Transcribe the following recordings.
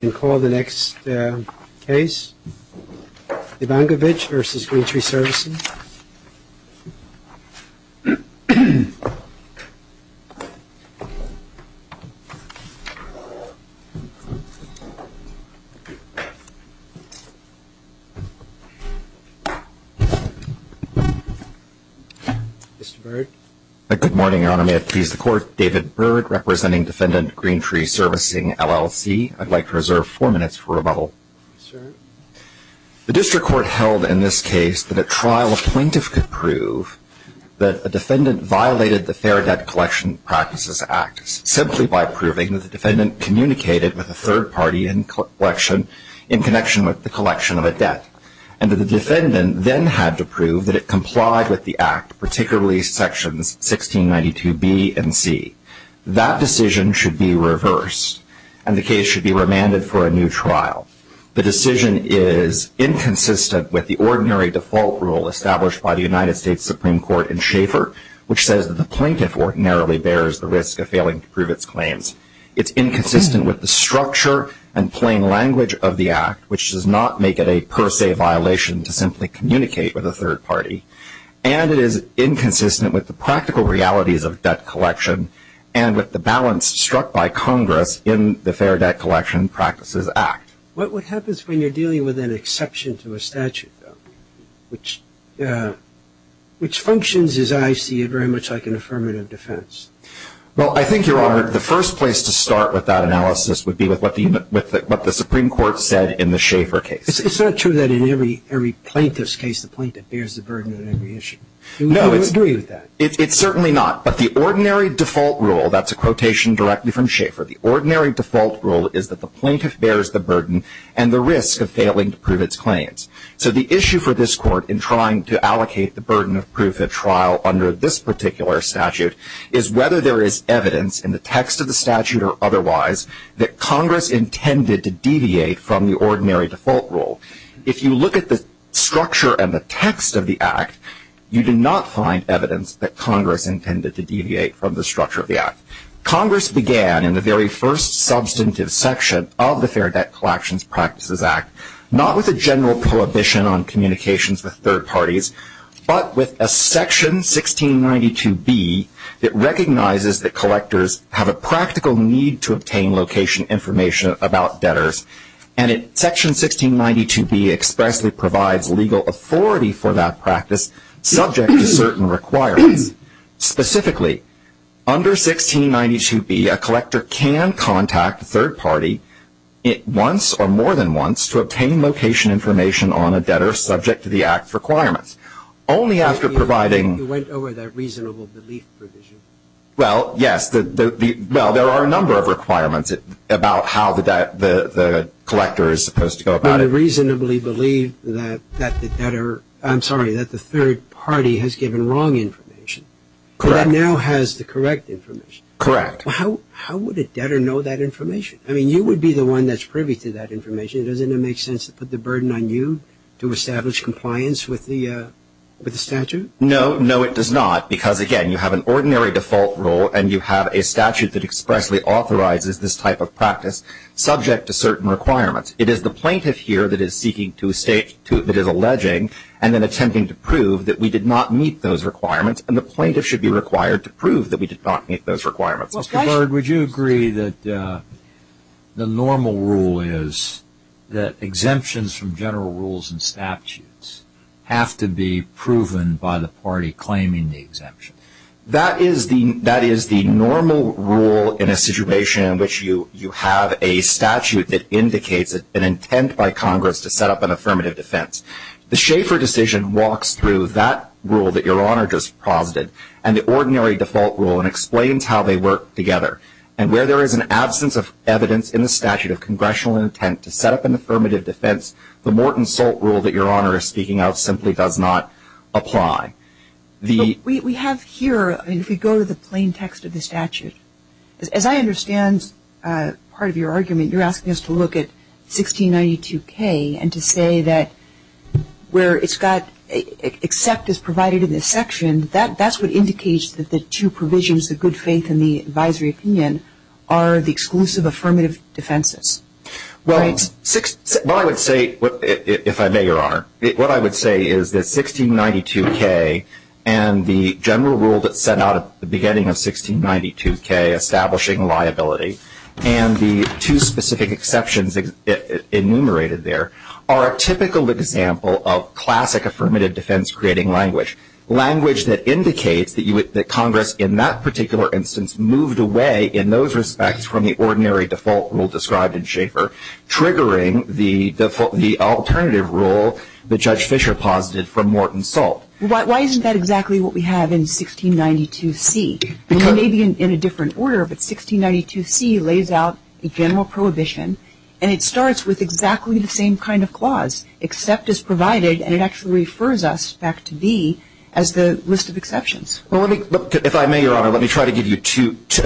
You can call the next case, Evankavitch v. Green Tree Servicing. Mr. Byrd. Good morning, Your Honor. May it please the Court? David Byrd, representing Defendant Green Tree Servicing, LLC. I'd like to reserve four minutes for rebuttal. Sure. The district court held in this case that at trial a plaintiff could prove that a defendant violated the Fair Debt Collection Practices Act simply by proving that the defendant communicated with a third party in connection with the collection of a debt and that the defendant then had to prove that it complied with the Act, particularly Sections 1692B and C. That decision should be reversed, and the case should be remanded for a new trial. The decision is inconsistent with the ordinary default rule established by the United States Supreme Court in Schaeffer, which says that the plaintiff ordinarily bears the risk of failing to prove its claims. It's inconsistent with the structure and plain language of the Act, which does not make it a per se violation to simply communicate with a third party. And it is inconsistent with the practical realities of debt collection and with the balance struck by Congress in the Fair Debt Collection Practices Act. What happens when you're dealing with an exception to a statute, which functions, as I see it, very much like an affirmative defense? Well, I think, Your Honor, the first place to start with that analysis would be with what the Supreme Court said in the Schaeffer case. It's not true that in every plaintiff's case, the plaintiff bears the burden of every issue. Do you agree with that? It's certainly not. But the ordinary default rule, that's a quotation directly from Schaeffer, the ordinary default rule is that the plaintiff bears the burden and the risk of failing to prove its claims. So the issue for this Court in trying to allocate the burden of proof of trial under this particular statute is whether there is evidence in the text of the statute or otherwise that Congress intended to deviate from the ordinary default rule. If you look at the structure and the text of the Act, you do not find evidence that Congress intended to deviate from the structure of the Act. Congress began in the very first substantive section of the Fair Debt Collections Practices Act not with a general prohibition on communications with third parties, but with a Section 1692B that recognizes that collectors have a practical need to obtain location information about debtors. And Section 1692B expressly provides legal authority for that practice subject to certain requirements. Specifically, under 1692B, a collector can contact a third party once or more than once to obtain location information on a debtor subject to the Act's requirements. Only after providing... You went over that reasonable belief provision. Well, yes. Well, there are a number of requirements about how the collector is supposed to go about it. But you reasonably believe that the debtor... I'm sorry, that the third party has given wrong information. Correct. That now has the correct information. Correct. How would a debtor know that information? I mean, you would be the one that's privy to that information. Doesn't it make sense to put the burden on you to establish compliance with the statute? No, no, it does not, because, again, you have an ordinary default rule and you have a statute that expressly authorizes this type of practice subject to certain requirements. It is the plaintiff here that is seeking to state, that is alleging and then attempting to prove that we did not meet those requirements, and the plaintiff should be required to prove that we did not meet those requirements. Mr. Bird, would you agree that the normal rule is that exemptions from general rules and statutes have to be proven by the party claiming the exemption? That is the normal rule in a situation in which you have a statute that indicates an intent by Congress to set up an affirmative defense. The Schaeffer decision walks through that rule that Your Honor just posited and the ordinary default rule and explains how they work together. And where there is an absence of evidence in the statute of congressional intent to set up an affirmative defense, the Morton-Solt rule that Your Honor is speaking of simply does not apply. We have here, if we go to the plain text of the statute, as I understand part of your argument, you're asking us to look at 1692K and to say that where it's got except is provided in this section, that's what indicates that the two provisions, the good faith and the advisory opinion, are the exclusive affirmative defenses. Well, what I would say, if I may, Your Honor, what I would say is that 1692K and the general rule that's set out at the beginning of 1692K establishing liability and the two specific exceptions enumerated there are a typical example of classic affirmative defense creating language. Language that indicates that Congress in that particular instance moved away in those respects from the ordinary default rule described in Schaeffer triggering the alternative rule that Judge Fischer posited from Morton-Solt. Why isn't that exactly what we have in 1692C? It may be in a different order, but 1692C lays out a general prohibition and it starts with exactly the same kind of clause, except is provided, and it actually refers us back to B as the list of exceptions. If I may, Your Honor, let me try to give you a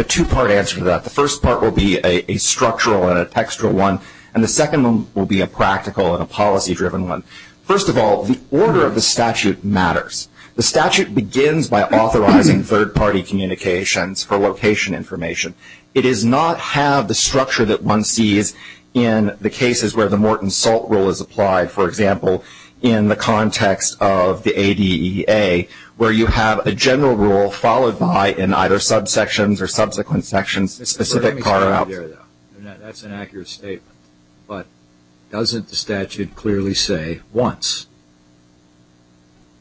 two-part answer to that. The first part will be a structural and a textual one, and the second one will be a practical and a policy-driven one. First of all, the order of the statute matters. The statute begins by authorizing third-party communications for location information. It does not have the structure that one sees in the cases where the Morton-Solt rule is applied, for example, in the context of the ADEA, where you have a general rule followed by, in either subsections or subsequent sections, a specific carve-out. That's an accurate statement, but doesn't the statute clearly say once?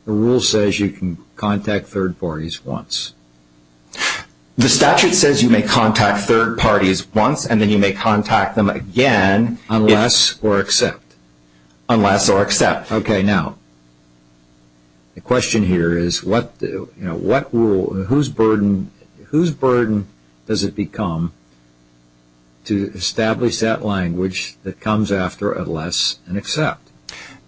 The rule says you can contact third parties once. The statute says you may contact third parties once and then you may contact them again unless or except. Unless or except. Okay, now, the question here is whose burden does it become to establish that language that comes after unless and except?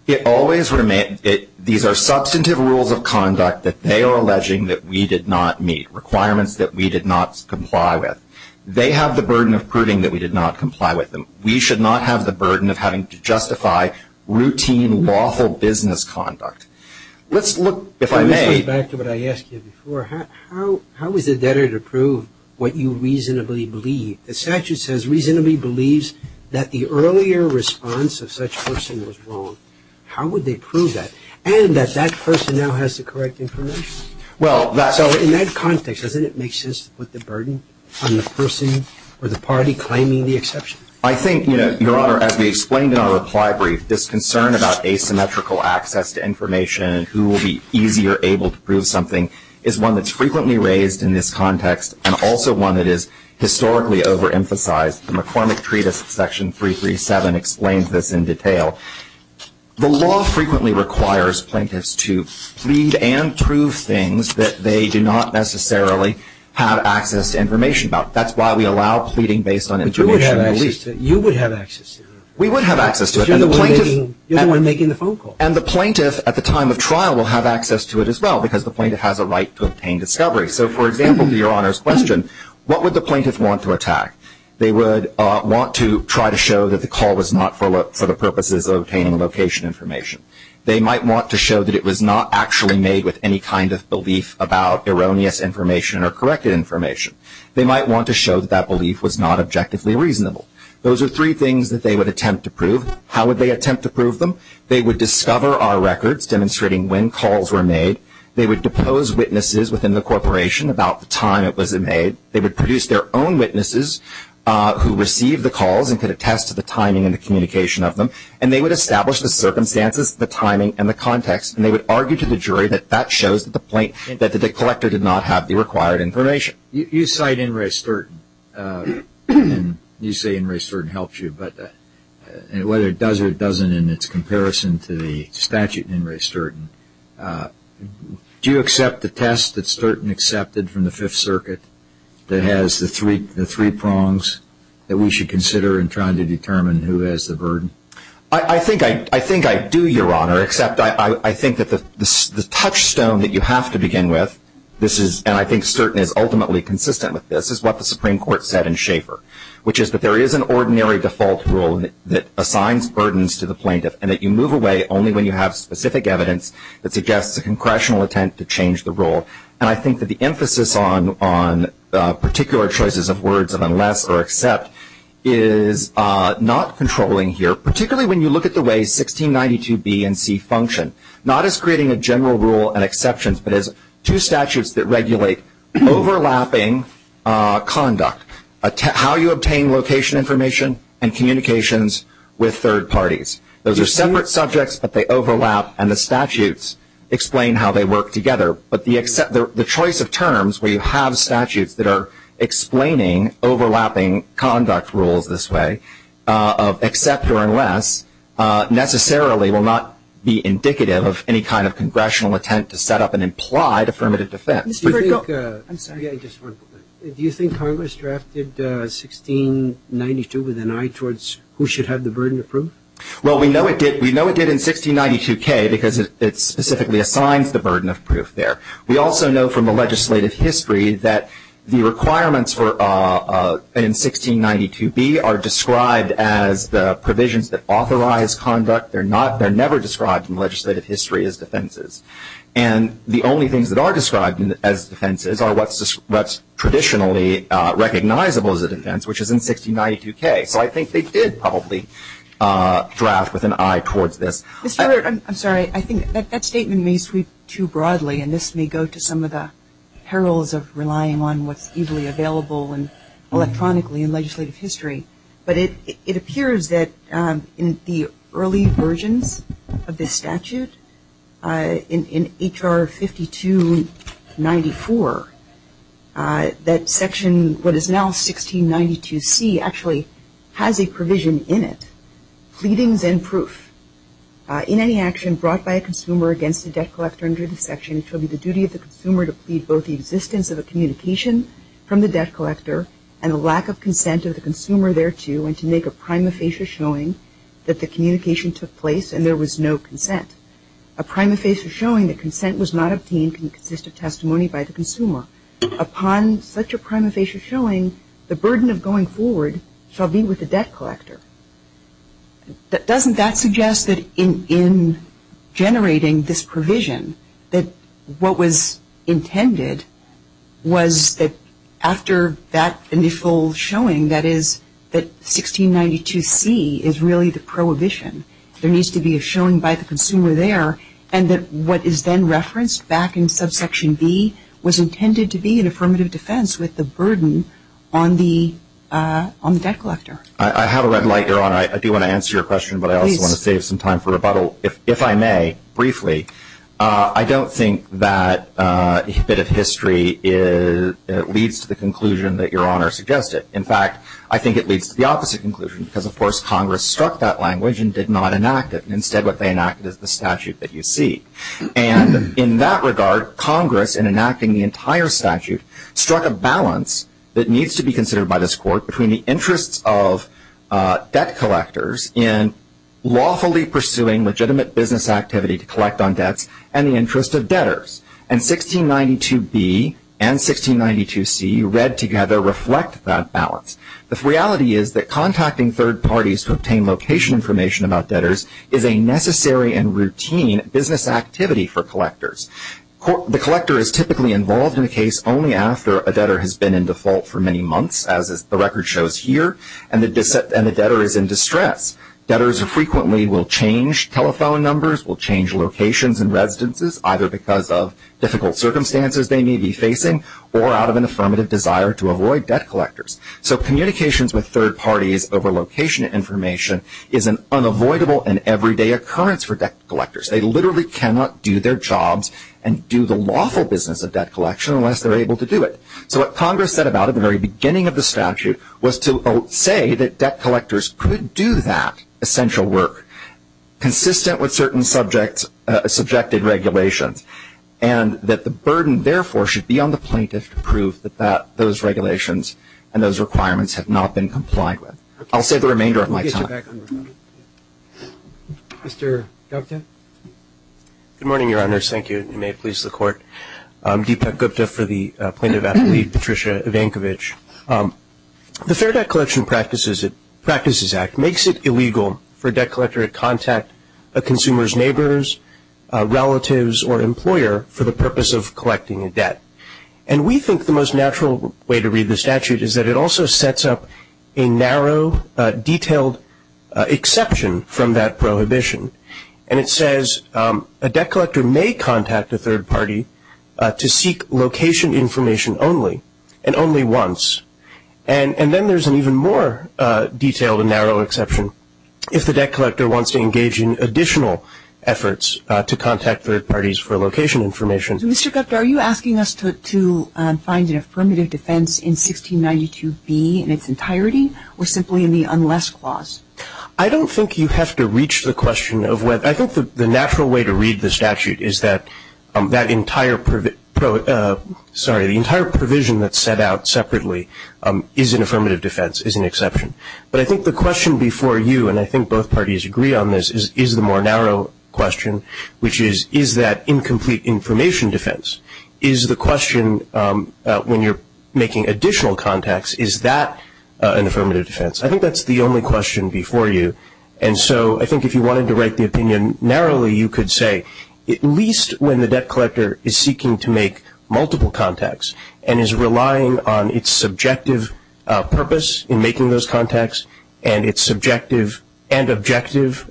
These are substantive rules of conduct that they are alleging that we did not meet, requirements that we did not comply with. They have the burden of proving that we did not comply with them. We should not have the burden of having to justify routine, lawful business conduct. Let's look, if I may. Let me go back to what I asked you before. How is it better to prove what you reasonably believe? The statute says reasonably believes that the earlier response of such person was wrong. How would they prove that? And that that person now has the correct information? Well, that's. So in that context, doesn't it make sense to put the burden on the person or the party claiming the exception? I think, Your Honor, as we explained in our reply brief, this concern about asymmetrical access to information and who will be easier able to prove something is one that's frequently raised in this context and also one that is historically overemphasized. The McCormick Treatise Section 337 explains this in detail. The law frequently requires plaintiffs to plead and prove things that they do not necessarily have access to information about. That's why we allow pleading based on information. You would have access to it. We would have access to it. You're the one making the phone call. And the plaintiff at the time of trial will have access to it as well because the plaintiff has a right to obtain discovery. So, for example, to Your Honor's question, what would the plaintiff want to attack? They would want to try to show that the call was not for the purposes of obtaining location information. They might want to show that it was not actually made with any kind of belief about erroneous information or corrected information. They might want to show that that belief was not objectively reasonable. Those are three things that they would attempt to prove. How would they attempt to prove them? They would discover our records demonstrating when calls were made. They would depose witnesses within the corporation about the time it was made. They would produce their own witnesses who received the calls and could attest to the timing and the communication of them. And they would establish the circumstances, the timing, and the context, and they would argue to the jury that that shows that the collector did not have the required information. You cite In re Sturton, and you say In re Sturton helps you, but whether it does or it doesn't in its comparison to the statute in In re Sturton, do you accept the test that Sturton accepted from the Fifth Circuit that has the three prongs that we should consider in trying to determine who has the burden? I think I do, Your Honor, except I think that the touchstone that you have to begin with, and I think Sturton is ultimately consistent with this, is what the Supreme Court said in Schaefer, which is that there is an ordinary default rule that assigns burdens to the plaintiff and that you move away only when you have specific evidence that suggests a congressional attempt to change the rule. And I think that the emphasis on particular choices of words of unless or accept is not controlling here, particularly when you look at the way 1692b and c function, not as creating a general rule and exceptions, but as two statutes that regulate overlapping conduct, how you obtain location information and communications with third parties. Those are separate subjects, but they overlap, and the statutes explain how they work together. But the choice of terms where you have statutes that are explaining overlapping conduct rules this way of accept necessarily will not be indicative of any kind of congressional attempt to set up an implied affirmative defense. Do you think Congress drafted 1692 with an eye towards who should have the burden of proof? Well, we know it did. We know it did in 1692k because it specifically assigns the burden of proof there. We also know from the legislative history that the requirements in 1692b are described as the provisions that authorize conduct. They're never described in legislative history as defenses. And the only things that are described as defenses are what's traditionally recognizable as a defense, which is in 1692k. So I think they did probably draft with an eye towards this. I'm sorry. I think that statement may sweep too broadly, and this may go to some of the perils of relying on what's easily available electronically in legislative history. But it appears that in the early versions of this statute, in H.R. 5294, that section what is now 1692c actually has a provision in it, pleadings and proof. In any action brought by a consumer against a debt collector under this section, it shall be the duty of the consumer to plead both the existence of a communication from the debt collector and the lack of consent of the consumer thereto, and to make a prima facie showing that the communication took place and there was no consent, a prima facie showing that consent was not obtained can consist of testimony by the consumer. Upon such a prima facie showing, the burden of going forward shall be with the debt collector. Doesn't that suggest that in generating this provision that what was intended was that after that initial showing, that is that 1692c is really the prohibition. There needs to be a showing by the consumer there, and that what is then referenced back in subsection B was intended to be an affirmative defense with the burden on the debt collector. I have a red light, Your Honor. I do want to answer your question, but I also want to save some time for rebuttal, if I may, briefly. I don't think that a bit of history leads to the conclusion that Your Honor suggested. In fact, I think it leads to the opposite conclusion because, of course, Congress struck that language and did not enact it. Instead, what they enacted is the statute that you see. And in that regard, Congress, in enacting the entire statute, struck a balance that needs to be considered by this Court between the interests of debt collectors in lawfully pursuing legitimate business activity to collect on debts and the interest of debtors. And 1692b and 1692c, read together, reflect that balance. The reality is that contacting third parties to obtain location information about debtors is a necessary and routine business activity for collectors. The collector is typically involved in a case only after a debtor has been in default for many months, as the record shows here, and the debtor is in distress. Debtors frequently will change telephone numbers, will change locations and residences, either because of difficult circumstances they may be facing or out of an affirmative desire to avoid debt collectors. So communications with third parties over location information is an unavoidable and everyday occurrence for debt collectors. They literally cannot do their jobs and do the lawful business of debt collection unless they're able to do it. So what Congress said about it at the very beginning of the statute was to say that debt collectors could do that essential work, consistent with certain subjected regulations, and that the burden, therefore, should be on the plaintiff to prove that those regulations and those requirements have not been complied with. I'll save the remainder of my time. Mr. Gupta? Good morning, Your Honors. Thank you. And may it please the Court. Deepak Gupta for the plaintiff athlete, Patricia Evankovich. The Fair Debt Collection Practices Act makes it illegal for a debt collector to contact a consumer's neighbors, relatives or employer for the purpose of collecting a debt. And we think the most natural way to read the statute is that it also sets up a narrow, detailed exception from that prohibition. And it says a debt collector may contact a third party to seek location information only, and only once. And then there's an even more detailed and narrow exception if the debt collector wants to engage in additional efforts to contact third parties for location information. Mr. Gupta, are you asking us to find an affirmative defense in 1692B in its entirety, or simply in the unless clause? I don't think you have to reach the question of whether. I think the natural way to read the statute is that the entire provision that's set out separately is an affirmative defense, is an exception. But I think the question before you, and I think both parties agree on this, is the more narrow question, which is, is that incomplete information defense? Is the question when you're making additional contacts, is that an affirmative defense? I think that's the only question before you. And so I think if you wanted to write the opinion narrowly, you could say, at least when the debt collector is seeking to make multiple contacts and is relying on its subjective purpose in making those contacts, and its subjective and objective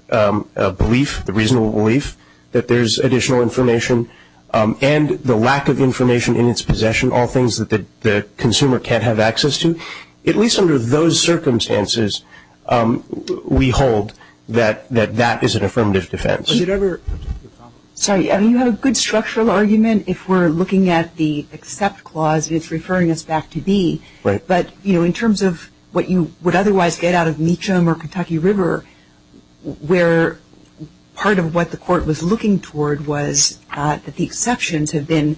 belief, the reasonable belief, that there's additional information, and the lack of information in its possession, all things that the consumer can't have access to, at least under those circumstances, we hold that that is an affirmative defense. Sorry, you have a good structural argument. If we're looking at the except clause, it's referring us back to B. But in terms of what you would otherwise get out of Meacham or Kentucky River, where part of what the Court was looking toward was that the exceptions have been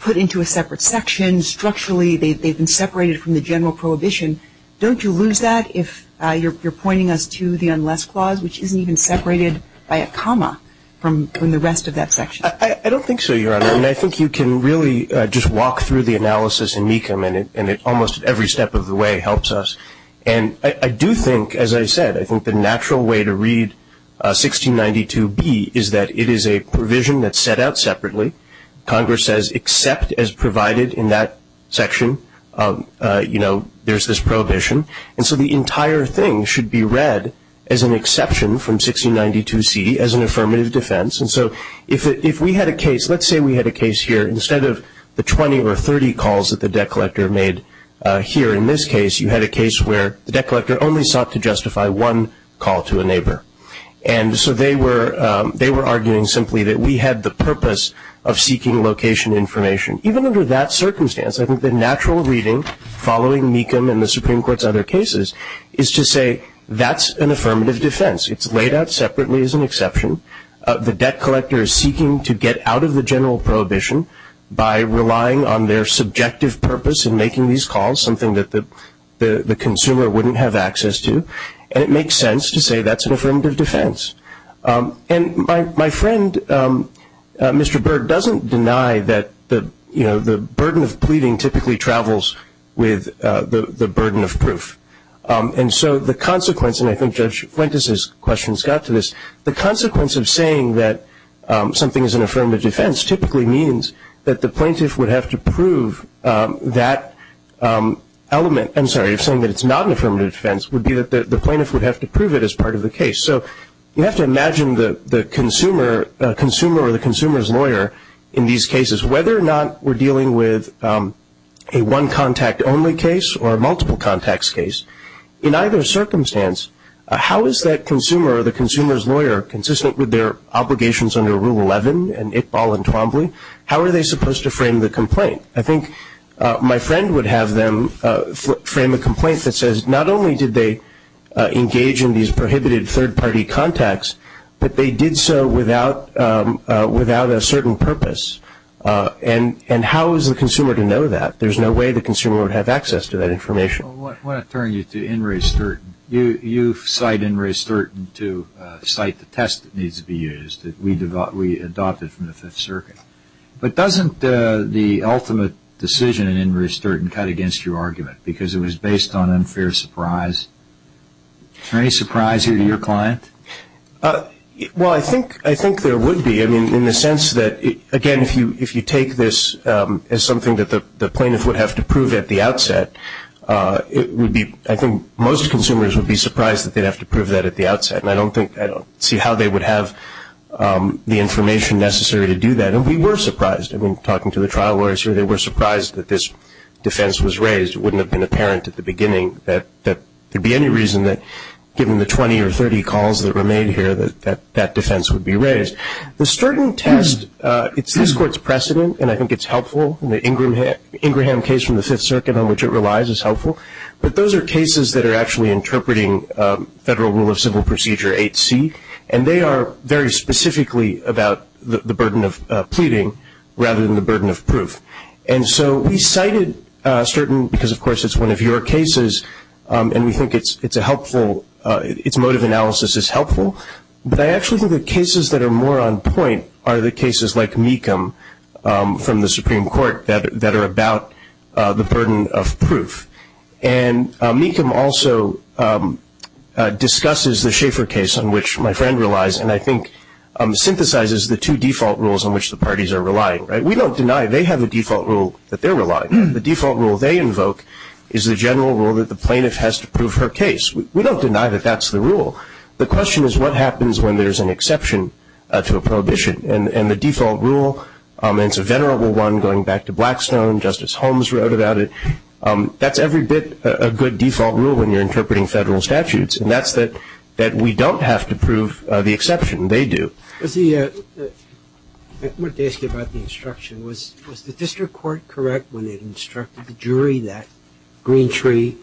put into a separate section. They've been separated from the general prohibition. Don't you lose that if you're pointing us to the unless clause, which isn't even separated by a comma from the rest of that section? I don't think so, Your Honor. And I think you can really just walk through the analysis in Meacham, and almost every step of the way helps us. And I do think, as I said, I think the natural way to read 1692B is that it is a provision that's set out separately. Congress says except as provided in that section, you know, there's this prohibition. And so the entire thing should be read as an exception from 1692C as an affirmative defense. And so if we had a case, let's say we had a case here, instead of the 20 or 30 calls that the debt collector made here in this case, you had a case where the debt collector only sought to justify one call to a neighbor. And so they were arguing simply that we had the purpose of seeking location information. Even under that circumstance, I think the natural reading, following Meacham and the Supreme Court's other cases, is to say that's an affirmative defense. It's laid out separately as an exception. The debt collector is seeking to get out of the general prohibition by relying on their subjective purpose in making these calls, something that the consumer wouldn't have access to. And it makes sense to say that's an affirmative defense. And my friend, Mr. Berg, doesn't deny that, you know, the burden of pleading typically travels with the burden of proof. And so the consequence, and I think Judge Fuentes' question's got to this, the consequence of saying that something is an affirmative defense typically means that the plaintiff would have to prove that element, I'm sorry, of saying that it's not an affirmative defense, would be that the plaintiff would have to prove it as part of the case. So you have to imagine the consumer or the consumer's lawyer in these cases. Whether or not we're dealing with a one-contact only case or a multiple contacts case, in either circumstance, how is that consumer or the consumer's lawyer consistent with their obligations under Rule 11 and Iqbal and Twombly? How are they supposed to frame the complaint? I think my friend would have them frame a complaint that says not only did they engage in these prohibited third-party contacts, but they did so without a certain purpose. And how is the consumer to know that? There's no way the consumer would have access to that information. I want to turn you to Inres Sturton. You cite Inres Sturton to cite the test that needs to be used that we adopted from the Fifth Circuit. But doesn't the ultimate decision in Inres Sturton cut against your argument because it was based on unfair surprise? Is there any surprise here to your client? Well, I think there would be in the sense that, again, if you take this as something that the plaintiff would have to prove at the outset, I think most consumers would be surprised that they'd have to prove that at the outset. And I don't see how they would have the information necessary to do that. And we were surprised. I mean, talking to the trial lawyers here, they were surprised that this defense was raised. It wouldn't have been apparent at the beginning that there would be any reason that, given the 20 or 30 calls that were made here, that that defense would be raised. The Sturton test, it's this Court's precedent, and I think it's helpful. The Ingram case from the Fifth Circuit on which it relies is helpful. But those are cases that are actually interpreting Federal Rule of Civil Procedure 8C, and they are very specifically about the burden of pleading rather than the burden of proof. And so we cited Sturton because, of course, it's one of your cases and we think its motive analysis is helpful, but I actually think the cases that are more on point are the cases like Mecham from the Supreme Court that are about the burden of proof. And Mecham also discusses the Schaeffer case on which my friend relies and I think synthesizes the two default rules on which the parties are relying. We don't deny they have a default rule that they're relying on. The default rule they invoke is the general rule that the plaintiff has to prove her case. We don't deny that that's the rule. The question is what happens when there's an exception to a prohibition. And the default rule, and it's a venerable one going back to Blackstone, Justice Holmes wrote about it, that's every bit a good default rule when you're interpreting federal statutes and that's that we don't have to prove the exception, they do. I wanted to ask you about the instruction. Was the district court correct when it instructed the jury that Green Tree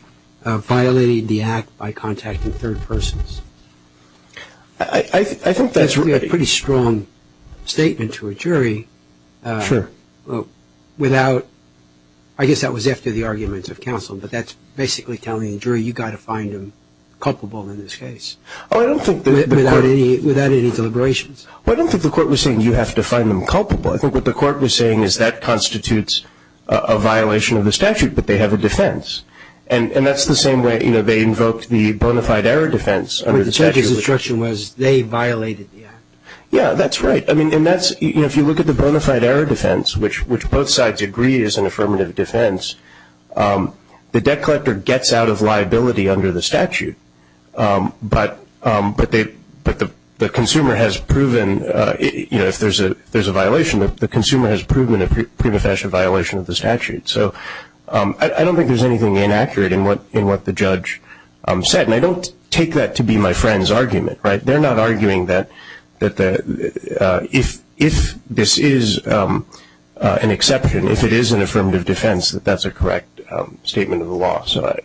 violated the act by contacting third persons? I think that's right. That's a pretty strong statement to a jury. Sure. Without, I guess that was after the argument of counsel, but that's basically telling the jury you've got to find them culpable in this case. Without any deliberations. I don't think the court was saying you have to find them culpable. I think what the court was saying is that constitutes a violation of the statute, but they have a defense. And that's the same way they invoked the bona fide error defense under the statute. But the judge's instruction was they violated the act. Yeah, that's right. If you look at the bona fide error defense, which both sides agree is an affirmative defense, the debt collector gets out of liability under the statute, but the consumer has proven, if there's a violation, the consumer has proven a prima facie violation of the statute. So I don't think there's anything inaccurate in what the judge said. And I don't take that to be my friend's argument. They're not arguing that if this is an exception, if it is an affirmative defense, that that's a correct statement of the law. So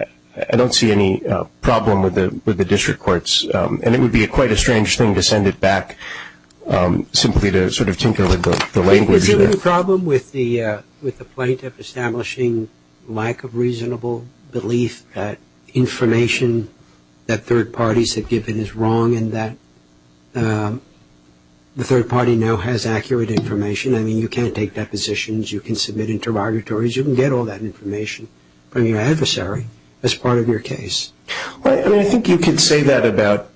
I don't see any problem with the district courts. And it would be quite a strange thing to send it back simply to sort of tinker with the language. Was there any problem with the plaintiff establishing lack of reasonable belief that information that third parties have given is wrong and that the third party now has accurate information? I mean, you can't take depositions. You can submit interrogatories. You can get all that information from your adversary as part of your case. I mean, I think you could say that about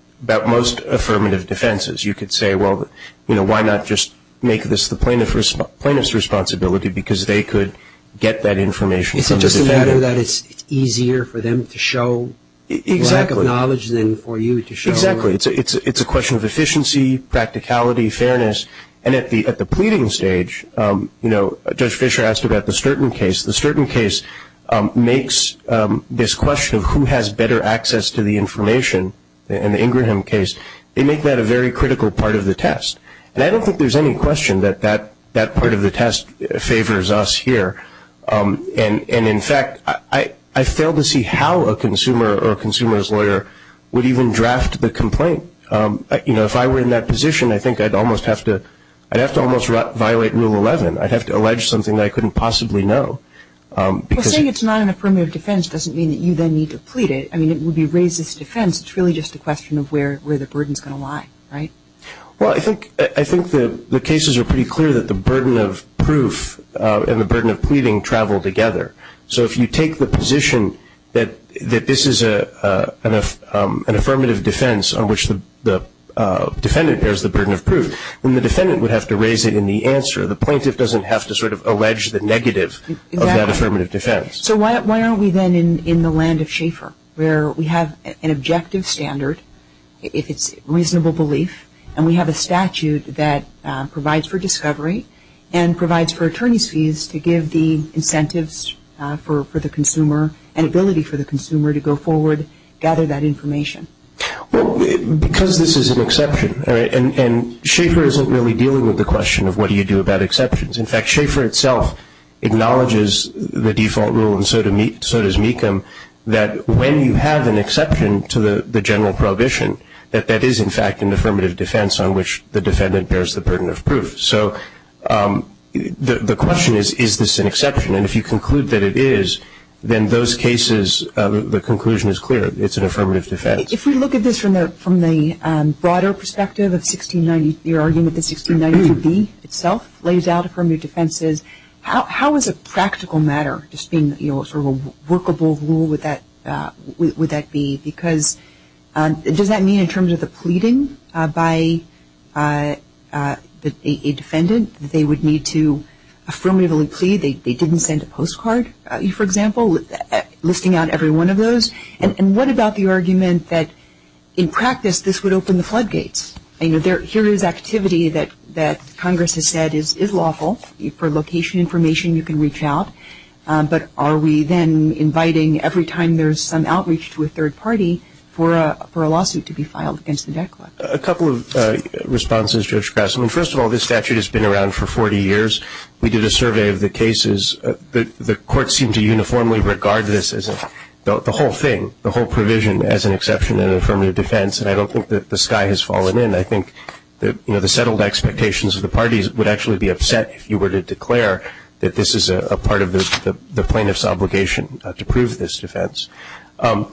most affirmative defenses. You could say, well, you know, why not just make this the plaintiff's responsibility because they could get that information. Is it just a matter that it's easier for them to show lack of knowledge than for you to show? Exactly. It's a question of efficiency, practicality, fairness. And at the pleading stage, you know, Judge Fischer asked about the Sturton case. The Sturton case makes this question of who has better access to the information in the Ingraham case, they make that a very critical part of the test. And I don't think there's any question that that part of the test favors us here. And, in fact, I fail to see how a consumer or a consumer's lawyer would even draft the complaint. You know, if I were in that position, I think I'd almost have to violate Rule 11. I'd have to allege something that I couldn't possibly know. Well, saying it's not an affirmative defense doesn't mean that you then need to plead it. I mean, it would be racist defense. It's really just a question of where the burden is going to lie, right? Well, I think the cases are pretty clear that the burden of proof and the burden of pleading travel together. So if you take the position that this is an affirmative defense on which the defendant bears the burden of proof, then the defendant would have to raise it in the answer. The plaintiff doesn't have to sort of allege the negative of that affirmative defense. So why aren't we then in the land of Schaefer, where we have an objective standard, if it's reasonable belief, and we have a statute that provides for discovery and provides for attorney's fees to give the incentives for the consumer and ability for the consumer to go forward, gather that information? Well, because this is an exception, and Schaefer isn't really dealing with the question of what do you do about exceptions. In fact, Schaefer itself acknowledges the default rule, and so does Mecham, that when you have an exception to the general prohibition, that that is in fact an affirmative defense on which the defendant bears the burden of proof. So the question is, is this an exception? And if you conclude that it is, then those cases, the conclusion is clear. It's an affirmative defense. If we look at this from the broader perspective of 1690, you're arguing that the 1692B itself lays out affirmative defenses. How is a practical matter, just being sort of a workable rule, would that be? Because does that mean in terms of the pleading by a defendant, that they would need to affirmatively plead, they didn't send a postcard, for example, listing out every one of those? And what about the argument that in practice this would open the floodgates? Here is activity that Congress has said is lawful. For location information, you can reach out. But are we then inviting, every time there's some outreach to a third party, for a lawsuit to be filed against the deckler? A couple of responses, Judge Grassley. First of all, this statute has been around for 40 years. We did a survey of the cases. The courts seem to uniformly regard this as the whole thing, the whole provision as an exception and an affirmative defense, and I don't think that the sky has fallen in. I think the settled expectations of the parties would actually be upset if you were to declare that this is a part of the plaintiff's obligation to prove this defense. And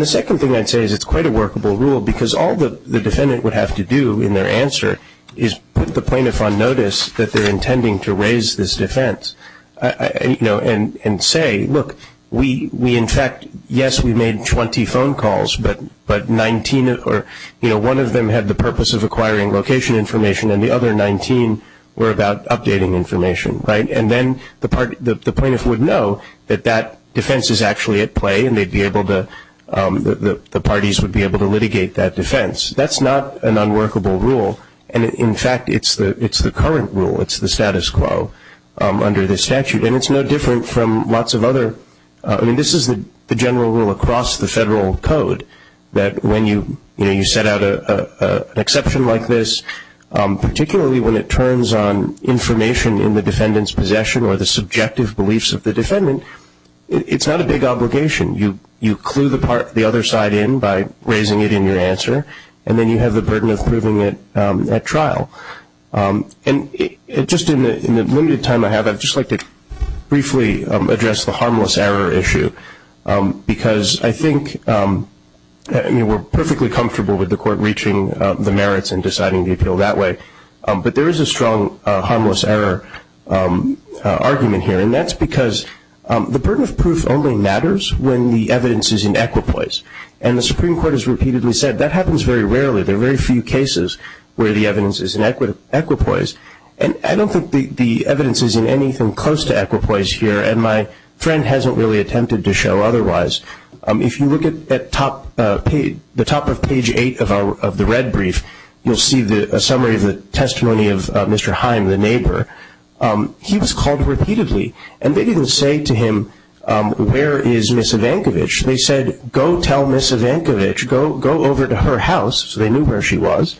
the second thing I'd say is it's quite a workable rule, because all the defendant would have to do in their answer is put the plaintiff on notice that they're intending to raise this defense and say, look, we in fact, yes, we made 20 phone calls, but one of them had the purpose of acquiring location information and the other 19 were about updating information. And then the plaintiff would know that that defense is actually at play and the parties would be able to litigate that defense. That's not an unworkable rule, and, in fact, it's the current rule. It's the status quo under this statute, and it's no different from lots of other. I mean, this is the general rule across the federal code, that when you set out an exception like this, particularly when it turns on information in the defendant's possession or the subjective beliefs of the defendant, it's not a big obligation. You clue the other side in by raising it in your answer, and then you have the burden of proving it at trial. And just in the limited time I have, I'd just like to briefly address the harmless error issue, because I think we're perfectly comfortable with the court reaching the merits and deciding the appeal that way, but there is a strong harmless error argument here, and that's because the burden of proof only matters when the evidence is in equitable place. And the Supreme Court has repeatedly said that happens very rarely. There are very few cases where the evidence is in equitable place, and I don't think the evidence is in anything close to equitable place here, and my friend hasn't really attempted to show otherwise. If you look at the top of page 8 of the red brief, you'll see a summary of the testimony of Mr. Heim, the neighbor. He was called repeatedly, and they didn't say to him, where is Ms. Ivankovich? They said, go tell Ms. Ivankovich. Go over to her house, so they knew where she was,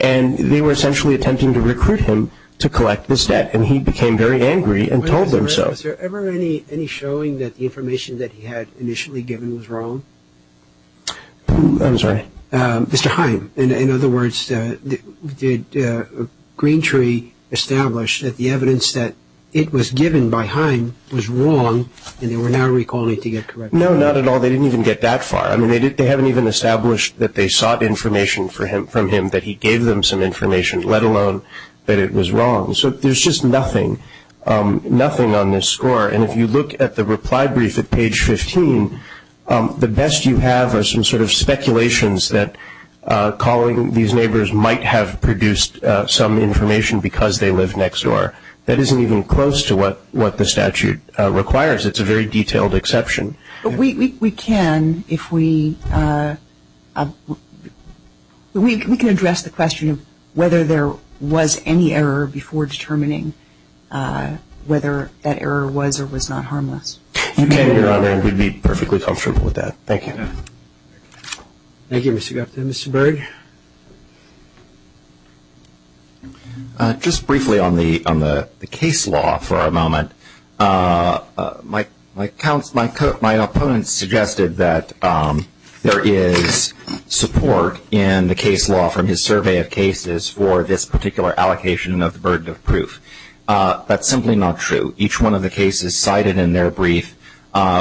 and they were essentially attempting to recruit him to collect this debt, and he became very angry and told them so. Was there ever any showing that the information that he had initially given was wrong? I'm sorry? Mr. Heim, in other words, did Green Tree establish that the evidence that it was given by Heim was wrong, and they were now recalling it to get corrected? No, not at all. They didn't even get that far. I mean, they haven't even established that they sought information from him, that he gave them some information, let alone that it was wrong. So there's just nothing, nothing on this score, and if you look at the reply brief at page 15, the best you have are some sort of speculations that calling these neighbors might have produced some information because they live next door. That isn't even close to what the statute requires. It's a very detailed exception. But we can, if we – we can address the question of whether there was any error before determining whether that error was or was not harmless. You can, Your Honor, and we'd be perfectly comfortable with that. Thank you. Thank you, Mr. Gupta. Mr. Berg? Just briefly on the case law for a moment. My opponents suggested that there is support in the case law from his survey of cases for this particular allocation of the burden of proof. That's simply not true. Each one of the cases cited in their brief,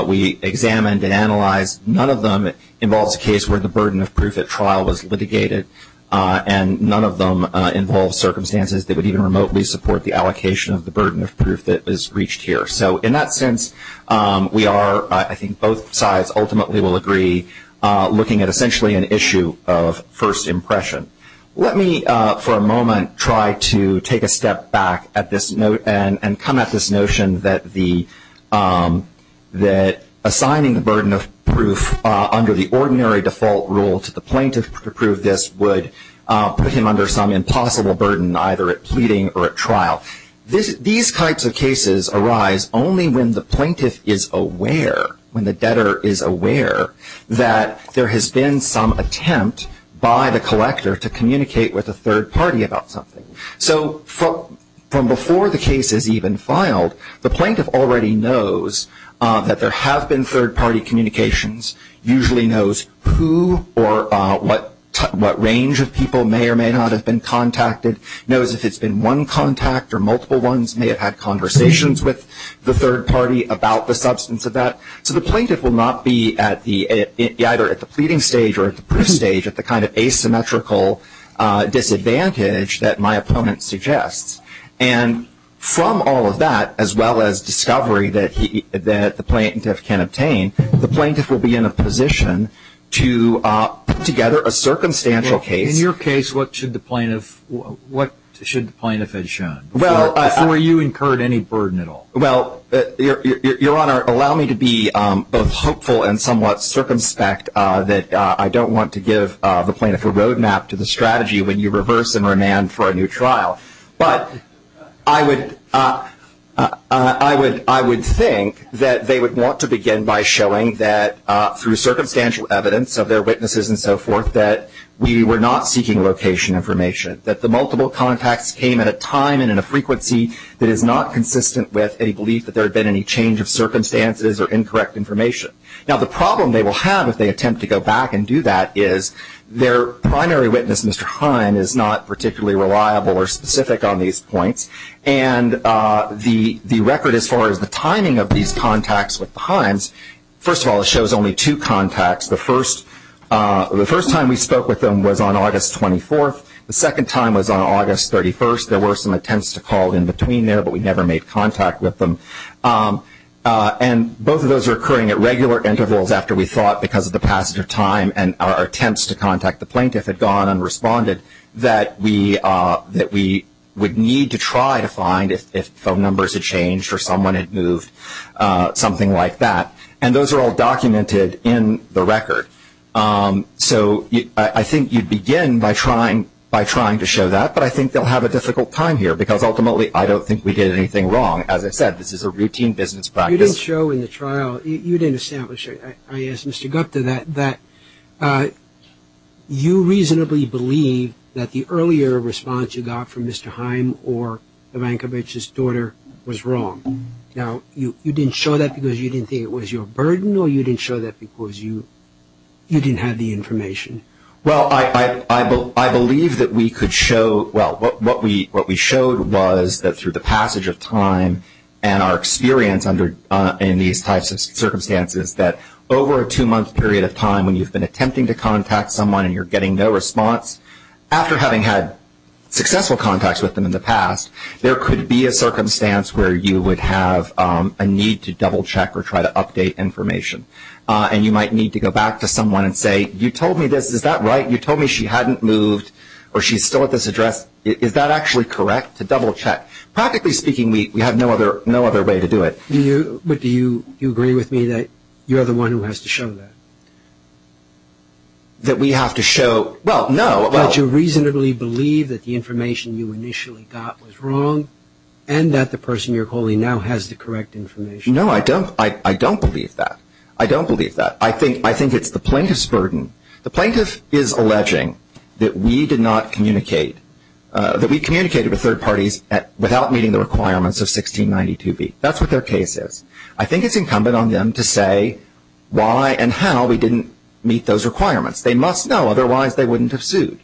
we examined and analyzed. None of them involves a case where the burden of proof at trial was litigated, and none of them involve circumstances that would even remotely support the allocation of the burden of proof that is reached here. So in that sense, we are, I think both sides ultimately will agree, looking at essentially an issue of first impression. Let me for a moment try to take a step back at this note and come at this notion that assigning the burden of proof under the ordinary default rule to the plaintiff to prove this would put him under some impossible burden, either at pleading or at trial. These types of cases arise only when the plaintiff is aware, when the debtor is aware, that there has been some attempt by the collector to communicate with a third party about something. So from before the case is even filed, the plaintiff already knows that there have been third party communications, usually knows who or what range of people may or may not have been contacted, knows if it's been one contact or multiple ones, may have had conversations with the third party about the substance of that. So the plaintiff will not be either at the pleading stage or at the proof stage at the kind of asymmetrical disadvantage that my opponent suggests. And from all of that, as well as discovery that the plaintiff can obtain, the plaintiff will be in a position to put together a circumstantial case. In your case, what should the plaintiff have shown before you incurred any burden at all? Well, Your Honor, allow me to be both hopeful and somewhat circumspect that I don't want to give the plaintiff a roadmap to the strategy when you reverse and remand for a new trial. But I would think that they would want to begin by showing that, through circumstantial evidence of their witnesses and so forth, that we were not seeking location information, that the multiple contacts came at a time and in a frequency that is not consistent with any belief that there had been any change of circumstances or incorrect information. Now, the problem they will have if they attempt to go back and do that is their primary witness, Mr. Himes, is not particularly reliable or specific on these points. And the record as far as the timing of these contacts with the Himes, first of all, shows only two contacts. The first time we spoke with them was on August 24th. The second time was on August 31st. There were some attempts to call in between there, but we never made contact with them. And both of those are occurring at regular intervals after we thought, because of the passage of time and our attempts to contact the plaintiff had gone unresponded, that we would need to try to find if phone numbers had changed or someone had moved, something like that. And those are all documented in the record. So I think you'd begin by trying to show that. But I think they'll have a difficult time here, because ultimately I don't think we did anything wrong. As I said, this is a routine business practice. You didn't show in the trial, you didn't establish it. I asked Mr. Gupta that. You reasonably believe that the earlier response you got from Mr. Himes or Ivankovich's daughter was wrong. Now, you didn't show that because you didn't think it was your burden, or you didn't show that because you didn't have the information? Well, I believe that we could show – well, what we showed was that through the passage of time and our experience in these types of circumstances that over a two-month period of time when you've been attempting to contact someone and you're getting no response, after having had successful contacts with them in the past, there could be a circumstance where you would have a need to double-check or try to update information. And you might need to go back to someone and say, you told me this. Is that right? You told me she hadn't moved or she's still at this address. Is that actually correct, to double-check? Practically speaking, we have no other way to do it. But do you agree with me that you're the one who has to show that? That we have to show – well, no. That you reasonably believe that the information you initially got was wrong and that the person you're calling now has the correct information? No, I don't believe that. I don't believe that. I think it's the plaintiff's burden. The plaintiff is alleging that we did not communicate, that we communicated with third parties without meeting the requirements of 1692b. That's what their case is. I think it's incumbent on them to say why and how we didn't meet those requirements. They must know. Otherwise, they wouldn't have sued.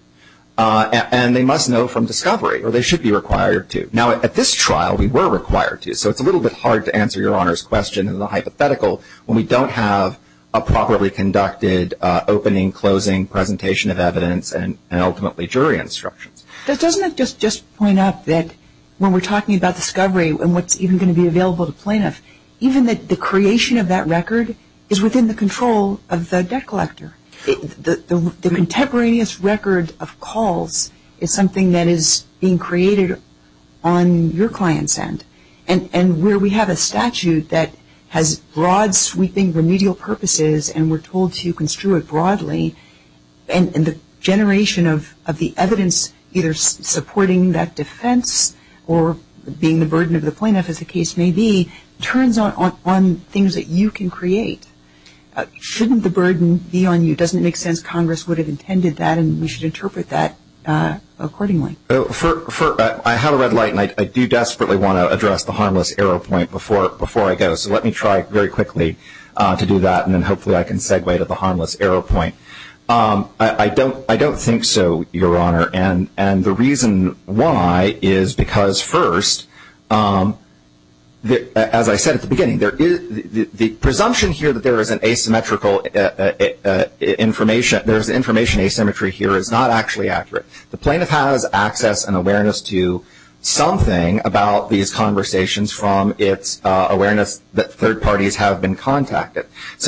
And they must know from discovery, or they should be required to. Now, at this trial, we were required to. So it's a little bit hard to answer Your Honor's question in the hypothetical when we don't have a properly conducted opening, closing presentation of evidence and ultimately jury instructions. Doesn't it just point out that when we're talking about discovery and what's even going to be available to plaintiffs, even that the creation of that record is within the control of the debt collector? The contemporaneous record of calls is something that is being created on your client's end. And where we have a statute that has broad, sweeping, remedial purposes and we're told to construe it broadly, and the generation of the evidence either supporting that defense or being the burden of the plaintiff, as the case may be, turns on things that you can create. Shouldn't the burden be on you? Doesn't it make sense Congress would have intended that and we should interpret that accordingly? I have a red light, and I do desperately want to address the harmless error point before I go. So let me try very quickly to do that, and then hopefully I can segue to the harmless error point. I don't think so, Your Honor. And the reason why is because, first, as I said at the beginning, the presumption here that there is information asymmetry here is not actually accurate. The plaintiff has access and awareness to something about these conversations from its awareness that third parties have been contacted. As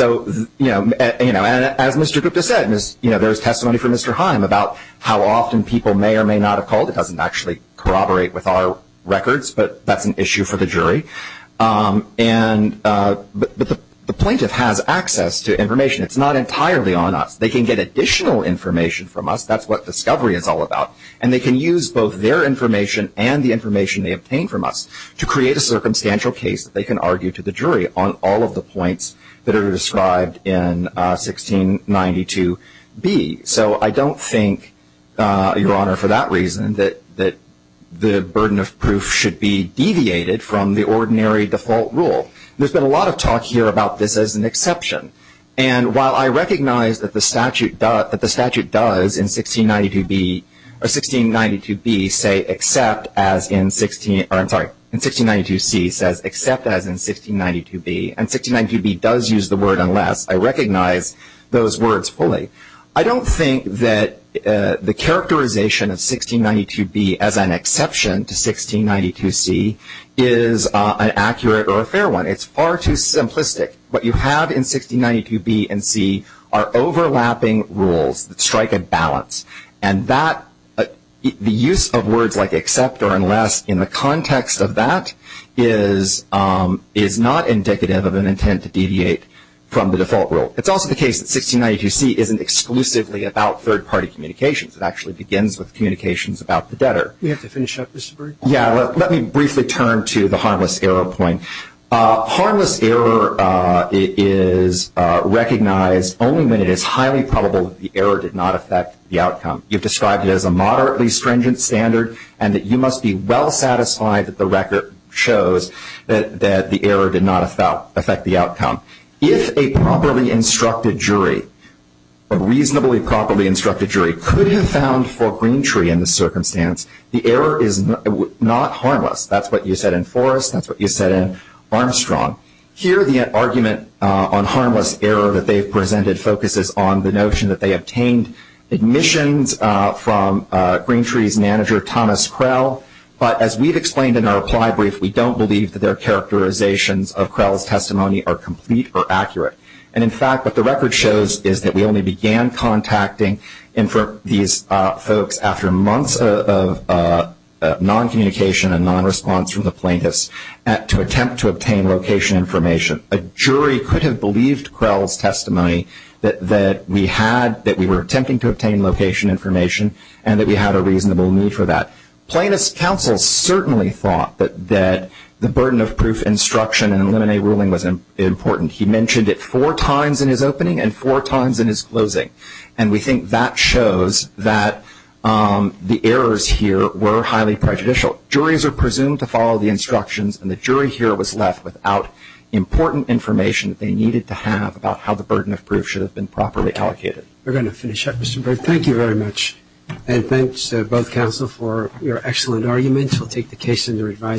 Mr. Gupta said, there is testimony from Mr. Heim about how often people may or may not have called. It doesn't actually corroborate with our records, but that's an issue for the jury. But the plaintiff has access to information. It's not entirely on us. They can get additional information from us. That's what discovery is all about. And they can use both their information and the information they obtain from us to create a circumstantial case that they can argue to the jury on all of the points that are described in 1692B. So I don't think, Your Honor, for that reason, that the burden of proof should be deviated from the ordinary default rule. There's been a lot of talk here about this as an exception. And while I recognize that the statute does in 1692B say except as in 1692C says except as in 1692B, and 1692B does use the word unless, I recognize those words fully. I don't think that the characterization of 1692B as an exception to 1692C is an accurate or a fair one. It's far too simplistic. What you have in 1692B and 1692C are overlapping rules that strike a balance. And the use of words like except or unless in the context of that is not indicative of an intent to deviate from the default rule. It's also the case that 1692C isn't exclusively about third-party communications. It actually begins with communications about the debtor. We have to finish up, Mr. Berg. Yeah, let me briefly turn to the harmless error point. Harmless error is recognized only when it is highly probable that the error did not affect the outcome. You've described it as a moderately stringent standard, and that you must be well satisfied that the record shows that the error did not affect the outcome. If a properly instructed jury, a reasonably properly instructed jury, could have found for Greentree in this circumstance, the error is not harmless. That's what you said in Forrest. That's what you said in Armstrong. Here, the argument on harmless error that they've presented focuses on the notion that they obtained admissions from Greentree's manager, Thomas Krell, but as we've explained in our reply brief, we don't believe that their characterizations of Krell's testimony are complete or accurate. And, in fact, what the record shows is that we only began contacting these folks after months of noncommunication and nonresponse from the plaintiffs to attempt to obtain location information. A jury could have believed Krell's testimony that we were attempting to obtain location information and that we had a reasonable need for that. Plaintiffs' counsel certainly thought that the burden of proof, instruction, and eliminate ruling was important. He mentioned it four times in his opening and four times in his closing, and we think that shows that the errors here were highly prejudicial. Juries are presumed to follow the instructions, and the jury here was left without important information that they needed to have about how the burden of proof should have been properly allocated. We're going to finish up, Mr. Berg. Thank you very much, and thanks, both counsel, for your excellent arguments. We'll take the case under advisory.